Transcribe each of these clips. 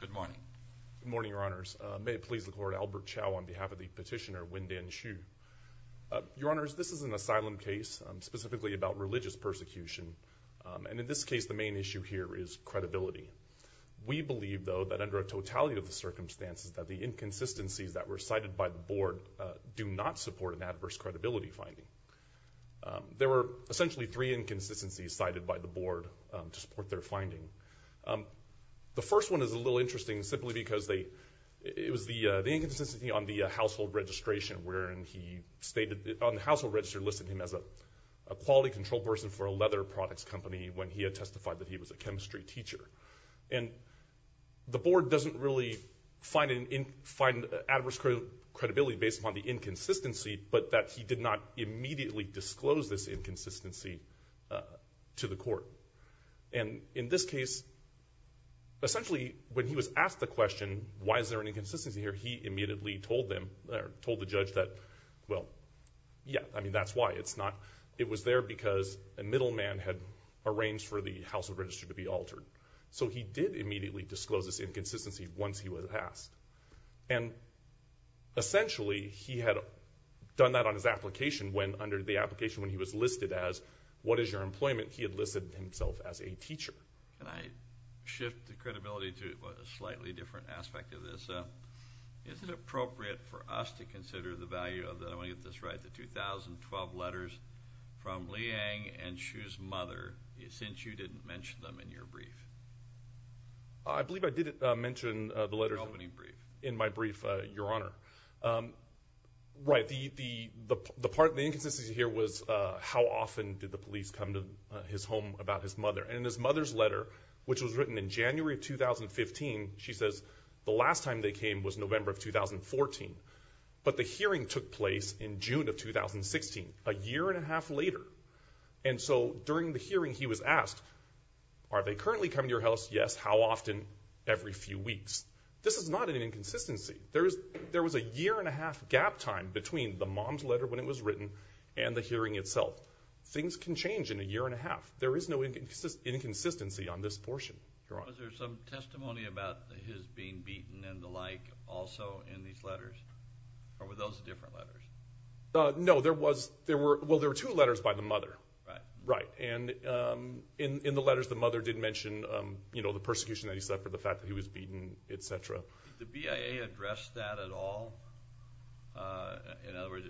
Good morning. Good morning, your honors. May it please the court, Albert Chow on behalf of the petitioner Wendian Xu. Your honors, this is an asylum case, specifically about religious persecution. And in this case, the main issue here is credibility. We believe, though, that under a totality of the circumstances, that the inconsistencies that were cited by the board do not support an adverse credibility finding. There were essentially three inconsistencies cited by the board to support their finding. The first one is a little interesting simply because it was the inconsistency on the household registration wherein he stated on the household register listed him as a quality control person for a leather products company when he had testified that he was a chemistry teacher. And the board doesn't really find an adverse credibility based upon the inconsistency, but that he did not immediately disclose this inconsistency to the court. And in this case, essentially, when he was asked the question, why is there an inconsistency here, he immediately told the judge that, well, yeah, I mean, that's why. It was there because a middleman had arranged for the household register to be altered. So he did immediately disclose this inconsistency once he was asked. And essentially, he had done that on his application when, or the application when he was listed as what is your employment, he had listed himself as a teacher. Can I shift the credibility to a slightly different aspect of this? Is it appropriate for us to consider the value of the 2012 letters from Liang and Xu's mother since you didn't mention them in your brief? I believe I did mention the letters in my brief, Your Honor. Right. The part of the inconsistency here was how often did the police come to his home about his mother. And in his mother's letter, which was written in January of 2015, she says the last time they came was November of 2014. But the hearing took place in June of 2016, a year and a half later. And so during the hearing, he was asked, are they currently coming to your house? Yes. How often? Every few weeks. This is not an inconsistency. There was a year and a half gap time between the mom's letter when it was written and the hearing itself. Things can change in a year and a half. There is no inconsistency on this portion, Your Honor. Was there some testimony about his being beaten and the like also in these letters? Or were those different letters? No, there were two letters by the mother. Right. Right. And in the letters, the mother did mention the persecution that he suffered, the fact that he was beaten, et cetera. Did the BIA address that at all? In other words,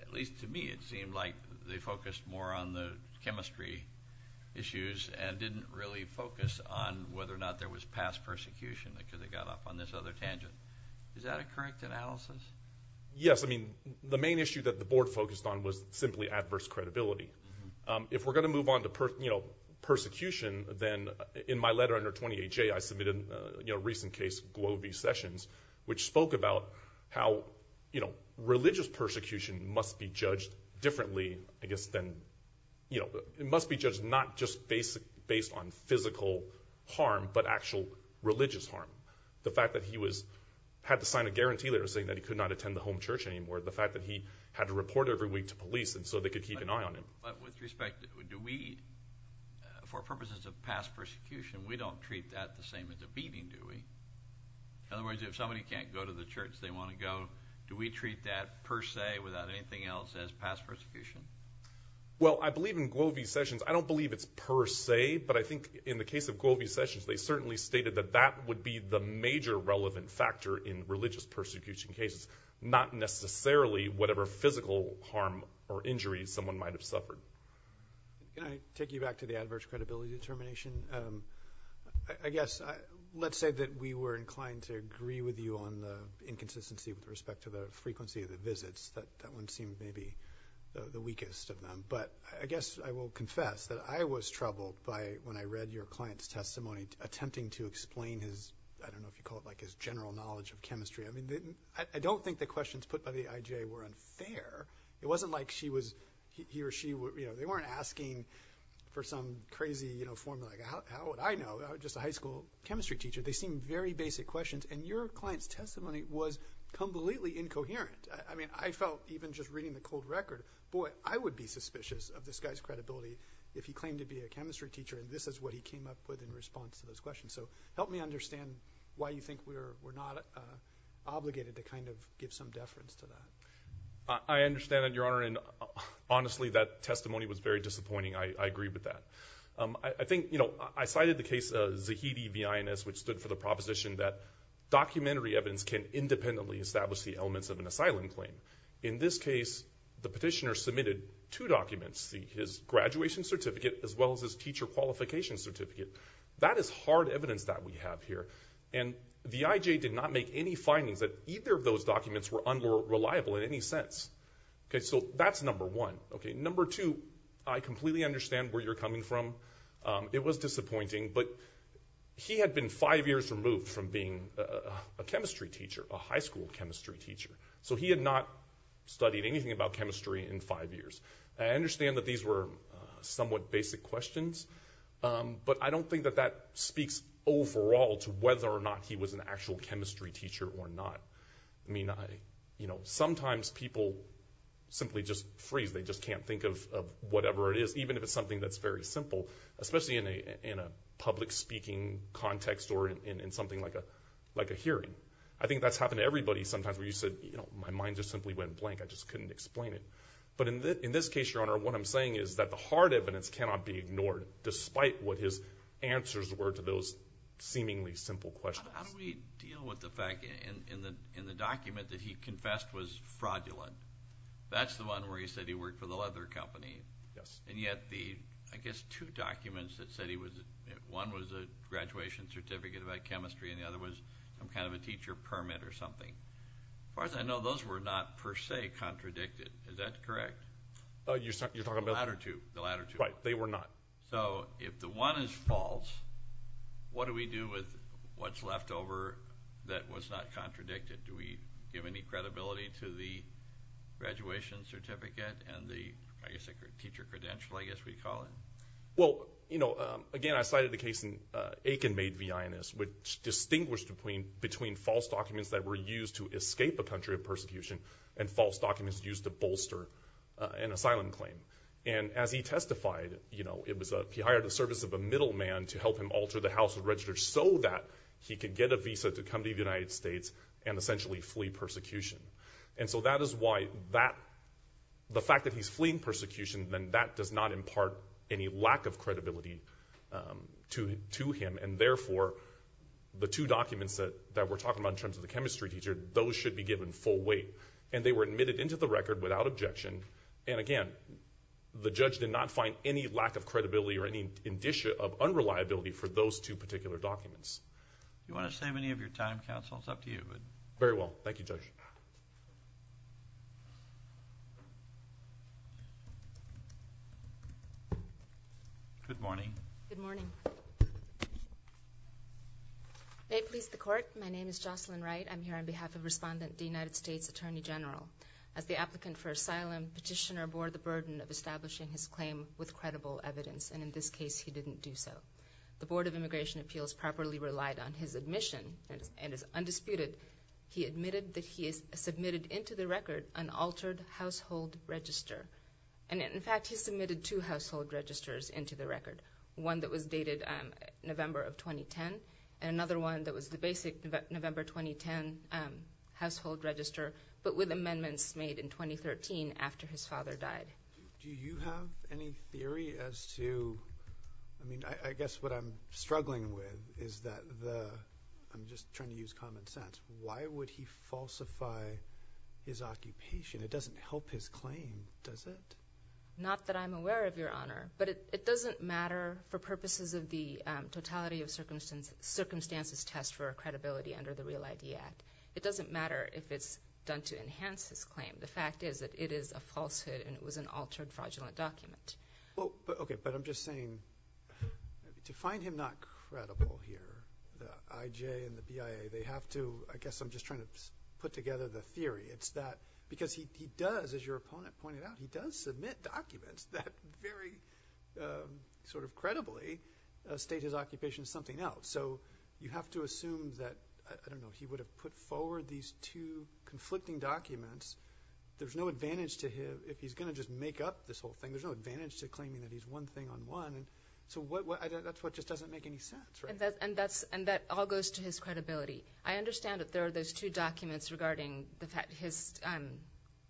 at least to me, it seemed like they focused more on the chemistry issues and didn't really focus on whether or not there was past persecution because it got off on this other tangent. Is that a correct analysis? Yes. I mean, the main issue that the board focused on was simply adverse credibility. If we're going to move on to persecution, then in my letter under 28J, I submitted a recent case, Globey Sessions, which spoke about how religious persecution must be judged differently. I guess then it must be judged not just based on physical harm but actual religious harm. The fact that he had to sign a guarantee letter saying that he could not attend the home church anymore, the fact that he had to report every week to police so they could keep an eye on him. But with respect, for purposes of past persecution, we don't treat that the same as a beating, do we? In other words, if somebody can't go to the church they want to go, do we treat that per se without anything else as past persecution? Well, I believe in Globey Sessions. I don't believe it's per se, but I think in the case of Globey Sessions, they certainly stated that that would be the major relevant factor in religious persecution cases, not necessarily whatever physical harm or injury someone might have suffered. Can I take you back to the adverse credibility determination? I guess let's say that we were inclined to agree with you on the inconsistency with respect to the frequency of the visits. That one seemed maybe the weakest of them. But I guess I will confess that I was troubled by, when I read your client's testimony, attempting to explain his, I don't know if you call it like his general knowledge of chemistry. I mean, I don't think the questions put by the IJ were unfair. It wasn't like he or she, they weren't asking for some crazy formula, like how would I know? I was just a high school chemistry teacher. They seemed very basic questions, and your client's testimony was completely incoherent. I mean, I felt even just reading the cold record, boy, I would be suspicious of this guy's credibility if he claimed to be a chemistry teacher and this is what he came up with in response to those questions. So help me understand why you think we're not obligated to kind of give some deference to that. I understand that, Your Honor, and honestly, that testimony was very disappointing. I agree with that. I think, you know, I cited the case of Zahidi v. Ines, which stood for the proposition that documentary evidence can independently establish the elements of an asylum claim. In this case, the petitioner submitted two documents, his graduation certificate as well as his teacher qualification certificate. That is hard evidence that we have here. And the IJ did not make any findings that either of those documents were unreliable in any sense. So that's number one. Number two, I completely understand where you're coming from. It was disappointing, but he had been five years removed from being a chemistry teacher, a high school chemistry teacher. So he had not studied anything about chemistry in five years. I understand that these were somewhat basic questions, but I don't think that that speaks overall to whether or not he was an actual chemistry teacher or not. I mean, you know, sometimes people simply just freeze. They just can't think of whatever it is, even if it's something that's very simple, especially in a public speaking context or in something like a hearing. I think that's happened to everybody sometimes where you said, you know, my mind just simply went blank. I just couldn't explain it. But in this case, Your Honor, what I'm saying is that the hard evidence cannot be ignored, despite what his answers were to those seemingly simple questions. How do we deal with the fact in the document that he confessed was fraudulent? That's the one where he said he worked for the leather company. Yes. And yet the, I guess, two documents that said one was a graduation certificate about chemistry and the other was some kind of a teacher permit or something. As far as I know, those were not per se contradicted. Is that correct? You're talking about? The latter two. The latter two. Right. They were not. So if the one is false, what do we do with what's left over that was not contradicted? Do we give any credibility to the graduation certificate and the, I guess, teacher credential, I guess we'd call it? Well, you know, again, I cited the case in Aiken v. INS, which distinguished between false documents that were used to escape a country of persecution and false documents used to bolster an asylum claim. And as he testified, you know, he hired the service of a middleman to help him alter the House of Registers so that he could get a visa to come to the United States and essentially flee persecution. And so that is why that, the fact that he's fleeing persecution, then that does not impart any lack of credibility to him, and therefore the two documents that we're talking about in terms of the chemistry teacher, those should be given full weight. And they were admitted into the record without objection. And again, the judge did not find any lack of credibility or any indicia of unreliability for those two particular documents. Do you want to save any of your time, counsel? It's up to you. Very well. Thank you, Judge. Good morning. Good morning. May it please the Court, my name is Jocelyn Wright. I'm here on behalf of Respondent D, United States Attorney General. As the applicant for asylum, Petitioner bore the burden of establishing his claim with credible evidence, and in this case he didn't do so. The Board of Immigration Appeals properly relied on his admission, and it's undisputed, he admitted that he submitted into the record an altered household register. And in fact, he submitted two household registers into the record, one that was dated November of 2010, and another one that was the basic November 2010 household register, but with amendments made in 2013 after his father died. Do you have any theory as to, I mean, I guess what I'm struggling with is that the, I'm just trying to use common sense, why would he falsify his occupation? It doesn't help his claim, does it? Not that I'm aware of, Your Honor. But it doesn't matter for purposes of the totality of circumstances test for credibility under the Real ID Act. It doesn't matter if it's done to enhance his claim. The fact is that it is a falsehood and it was an altered fraudulent document. Okay, but I'm just saying, to find him not credible here, the IJ and the BIA, they have to, I guess I'm just trying to put together the theory. It's that because he does, as your opponent pointed out, he does submit documents that very sort of credibly state his occupation as something else. So you have to assume that, I don't know, he would have put forward these two conflicting documents. There's no advantage to him if he's going to just make up this whole thing. There's no advantage to claiming that he's one thing on one. So that's what just doesn't make any sense, right? And that all goes to his credibility. I understand that there are those two documents regarding his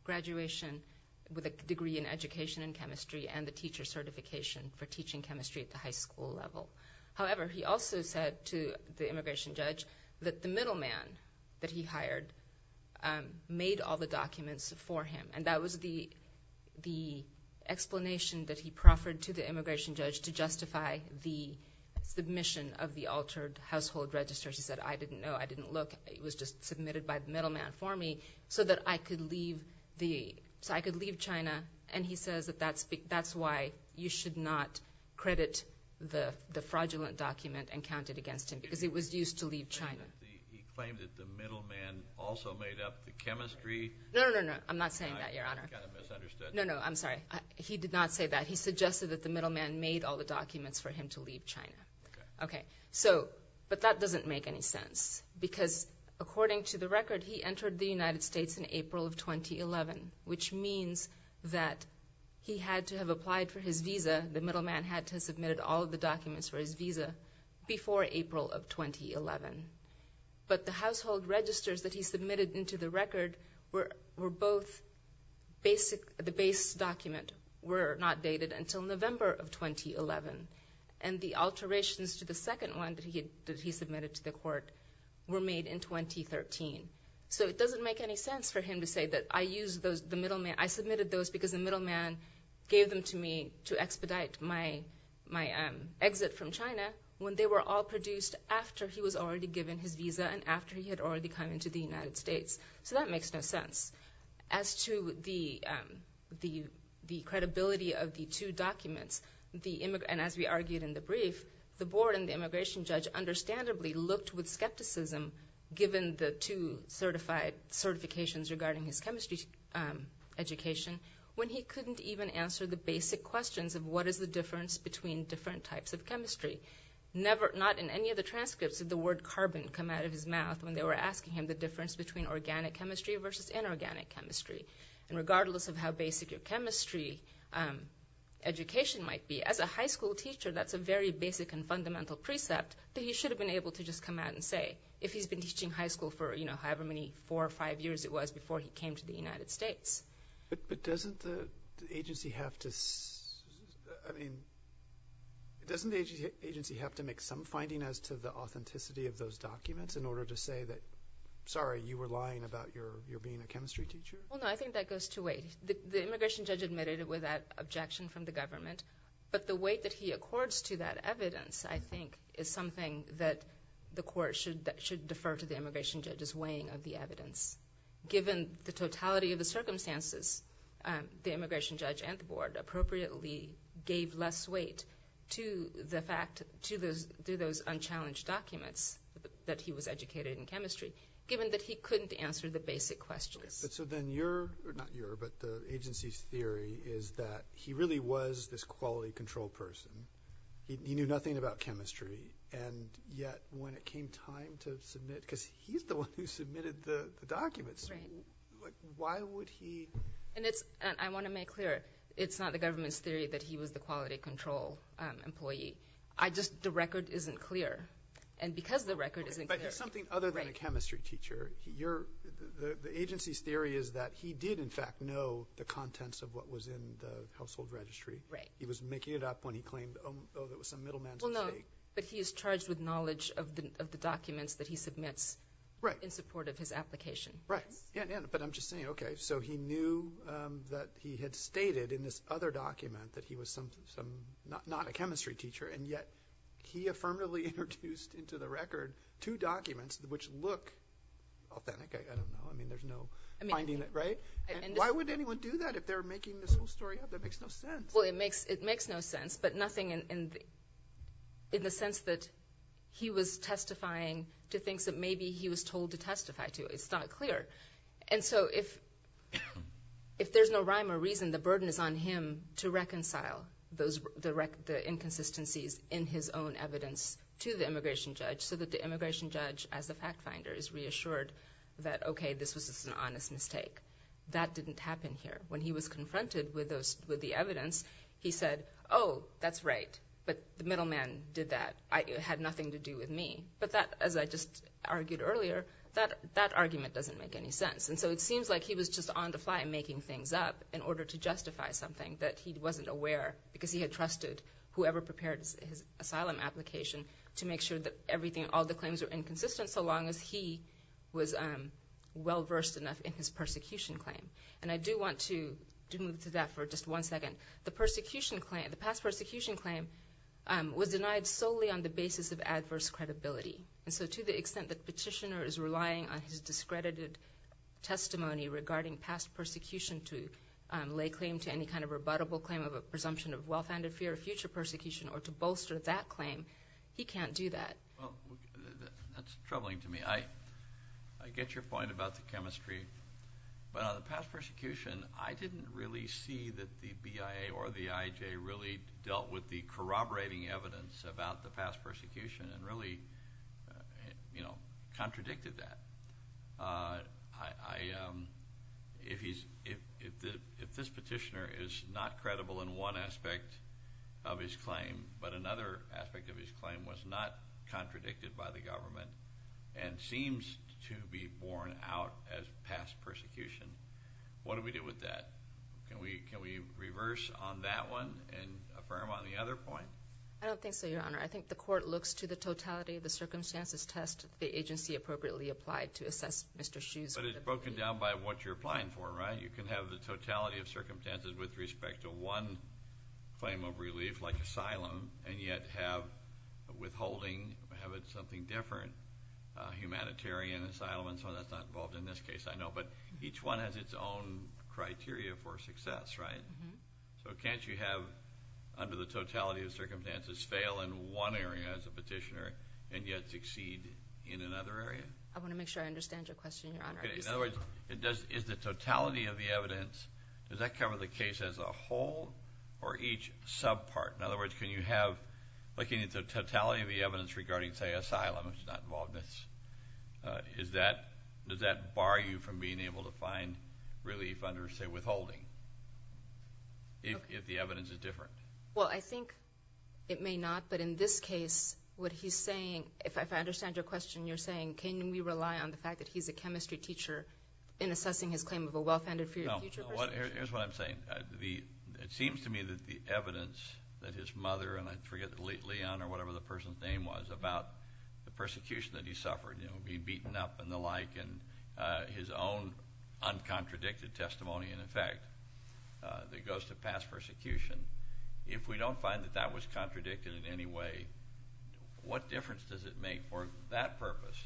graduation with a degree in education in chemistry and the teacher certification for teaching chemistry at the high school level. However, he also said to the immigration judge that the middleman that he hired made all the documents for him. And that was the explanation that he proffered to the immigration judge to justify the submission of the altered household registers. He said, I didn't know. I didn't look. It was just submitted by the middleman for me so that I could leave China. And he says that that's why you should not credit the fraudulent document and count it against him because it was used to leave China. He claimed that the middleman also made up the chemistry. No, no, no. I'm not saying that, Your Honor. I kind of misunderstood. No, no. I'm sorry. He did not say that. He suggested that the middleman made all the documents for him to leave China. Okay. But that doesn't make any sense because according to the record, he entered the United States in April of 2011, which means that he had to have applied for his visa. The middleman had to have submitted all of the documents for his visa before April of 2011. But the household registers that he submitted into the record were both basic. The base document were not dated until November of 2011. And the alterations to the second one that he submitted to the court were made in 2013. So it doesn't make any sense for him to say that I submitted those because the middleman gave them to me to expedite my exit from China when they were all produced after he was already given his visa and after he had already come into the United States. So that makes no sense. As to the credibility of the two documents, and as we argued in the brief, the board and the immigration judge understandably looked with skepticism, given the two certifications regarding his chemistry education, when he couldn't even answer the basic questions of what is the difference between different types of chemistry. Not in any of the transcripts did the word carbon come out of his mouth when they were asking him the difference between organic chemistry versus inorganic chemistry. And regardless of how basic your chemistry education might be, as a high school teacher that's a very basic and fundamental precept that he should have been able to just come out and say if he's been teaching high school for, you know, however many four or five years it was before he came to the United States. But doesn't the agency have to make some finding as to the authenticity of those documents in order to say that, sorry, you were lying about your being a chemistry teacher? Well, no, I think that goes two ways. The immigration judge admitted it without objection from the government, but the weight that he accords to that evidence, I think, is something that the court should defer to the immigration judge's weighing of the evidence. Given the totality of the circumstances, the immigration judge and the board appropriately gave less weight to the fact, to those unchallenged documents that he was educated in chemistry, given that he couldn't answer the basic questions. So then your, not your, but the agency's theory is that he really was this quality control person. He knew nothing about chemistry, and yet when it came time to submit, because he's the one who submitted the documents, why would he? And it's, and I want to make clear, it's not the government's theory that he was the quality control employee. I just, the record isn't clear. And because the record isn't clear. But there's something other than a chemistry teacher. Your, the agency's theory is that he did, in fact, know the contents of what was in the household registry. Right. He was making it up when he claimed, oh, it was some middleman's mistake. Well, no, but he is charged with knowledge of the documents that he submits in support of his application. Right. Yeah, but I'm just saying, okay, so he knew that he had stated in this other document that he was some, not a chemistry teacher, and yet he affirmatively introduced into the record two documents which look authentic. I don't know. I mean, there's no finding that, right? And why would anyone do that if they're making this whole story up? That makes no sense. Well, it makes no sense, but nothing in the sense that he was testifying to things that maybe he was told to testify to. It's not clear. And so if there's no rhyme or reason, the burden is on him to reconcile those, the inconsistencies in his own evidence to the immigration judge so that the immigration judge, as the fact finder, is reassured that, okay, this was just an honest mistake. That didn't happen here. When he was confronted with the evidence, he said, oh, that's right, but the middleman did that. It had nothing to do with me. But that, as I just argued earlier, that argument doesn't make any sense. And so it seems like he was just on the fly making things up in order to justify something that he wasn't aware, because he had trusted whoever prepared his asylum application to make sure that everything, all the claims were inconsistent so long as he was well-versed enough in his persecution claim. And I do want to move to that for just one second. The persecution claim, the past persecution claim, was denied solely on the basis of adverse credibility. And so to the extent that the petitioner is relying on his discredited testimony regarding past persecution to lay claim to any kind of rebuttable claim of a presumption of well-founded fear of future persecution or to bolster that claim, he can't do that. Well, that's troubling to me. I get your point about the chemistry. But on the past persecution, I didn't really see that the BIA or the IJ really dealt with the corroborating evidence about the past persecution and really contradicted that. If this petitioner is not credible in one aspect of his claim, but another aspect of his claim was not contradicted by the government and seems to be borne out as past persecution, what do we do with that? Can we reverse on that one and affirm on the other point? I don't think so, Your Honor. I think the court looks to the totality of the circumstances test the agency appropriately applied to assess Mr. Schuh's credibility. But it's broken down by what you're applying for, right? You can have the totality of circumstances with respect to one claim of relief, like asylum, and yet have withholding, have it something different, humanitarian, asylum, and some of that's not involved in this case, I know. But each one has its own criteria for success, right? So can't you have, under the totality of circumstances, fail in one area as a petitioner and yet succeed in another area? I want to make sure I understand your question, Your Honor. In other words, is the totality of the evidence, does that cover the case as a whole or each subpart? In other words, can you have the totality of the evidence regarding, say, asylum, which is not involved in this, does that bar you from being able to find relief under, say, withholding if the evidence is different? Well, I think it may not. But in this case, what he's saying, if I understand your question, you're saying, can we rely on the fact that he's a chemistry teacher in assessing his claim of a well-founded fear of future persecution? Here's what I'm saying. It seems to me that the evidence that his mother, and I forget Leon or whatever the person's name was, about the persecution that he suffered, you know, being beaten up and the like, and his own uncontradicted testimony, in effect, that goes to past persecution, if we don't find that that was contradicted in any way, what difference does it make for that purpose,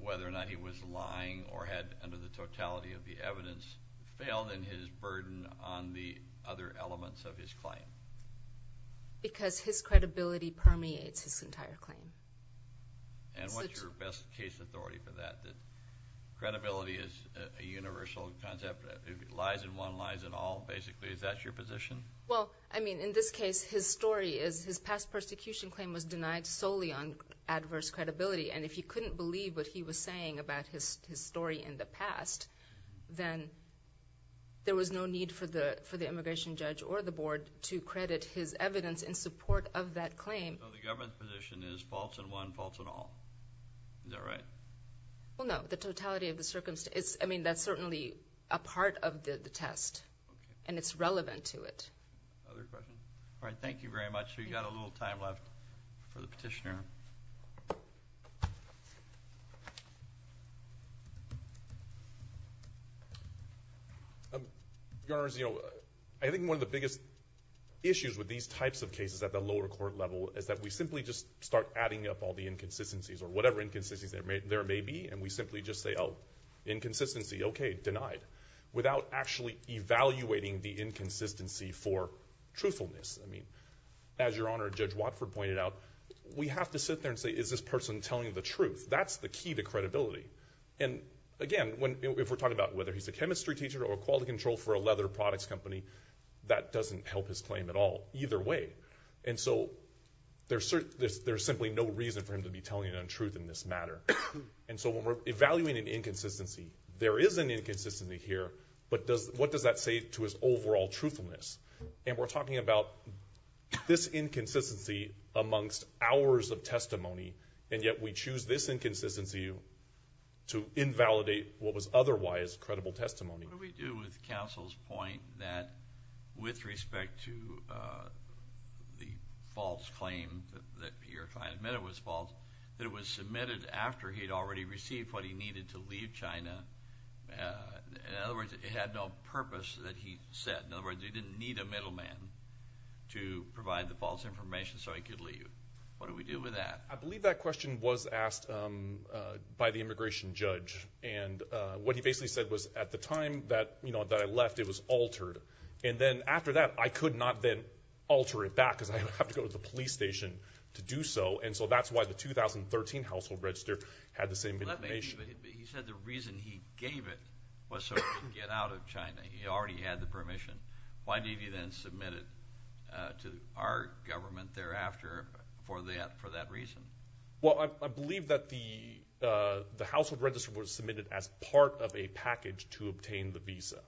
whether or not he was lying or had, under the totality of the evidence, failed in his burden on the other elements of his claim? Because his credibility permeates his entire claim. And what's your best case authority for that? That credibility is a universal concept. If it lies in one, lies in all, basically. Is that your position? Well, I mean, in this case, his story is his past persecution claim was denied solely on adverse credibility. And if you couldn't believe what he was saying about his story in the past, then there was no need for the immigration judge or the board to credit his evidence in support of that claim. So the government's position is false in one, false in all. Is that right? Well, no. The totality of the circumstances, I mean, that's certainly a part of the test. And it's relevant to it. Other questions? All right, thank you very much. We've got a little time left for the petitioner. Your Honors, I think one of the biggest issues with these types of cases at the lower court level is that we simply just start adding up all the inconsistencies or whatever inconsistencies there may be, and we simply just say, oh, inconsistency, okay, denied, without actually evaluating the inconsistency for truthfulness. I mean, as Your Honor, Judge Watford pointed out, we have to sit there and say, is this person telling the truth? That's the key to credibility. And again, if we're talking about whether he's a chemistry teacher or a quality control for a leather products company, that doesn't help his claim at all either way. And so there's simply no reason for him to be telling an untruth in this matter. And so when we're evaluating an inconsistency, there is an inconsistency here, but what does that say to his overall truthfulness? And we're talking about this inconsistency amongst hours of testimony, and yet we choose this inconsistency to invalidate what was otherwise credible testimony. What do we do with counsel's point that with respect to the false claim, that you're trying to admit it was false, that it was submitted after he had already received what he needed to leave China? In other words, it had no purpose that he said. In other words, he didn't need a middleman to provide the false information so he could leave. What do we do with that? I believe that question was asked by the immigration judge. And what he basically said was, at the time that I left, it was altered. And then after that, I could not then alter it back because I would have to go to the police station to do so. And so that's why the 2013 household register had the same information. He said the reason he gave it was so he could get out of China. He already had the permission. Why did he then submit it to our government thereafter for that reason? Well, I believe that the household register was submitted as part of a package to obtain the visa.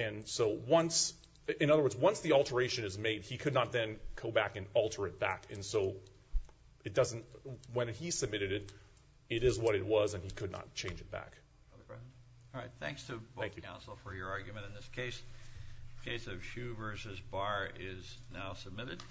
And so once—in other words, once the alteration is made, he could not then go back and alter it back. And so it doesn't—when he submitted it, it is what it was, and he could not change it back. All right. Thanks to both counsel for your argument in this case. The case of Xu v. Barr is now submitted.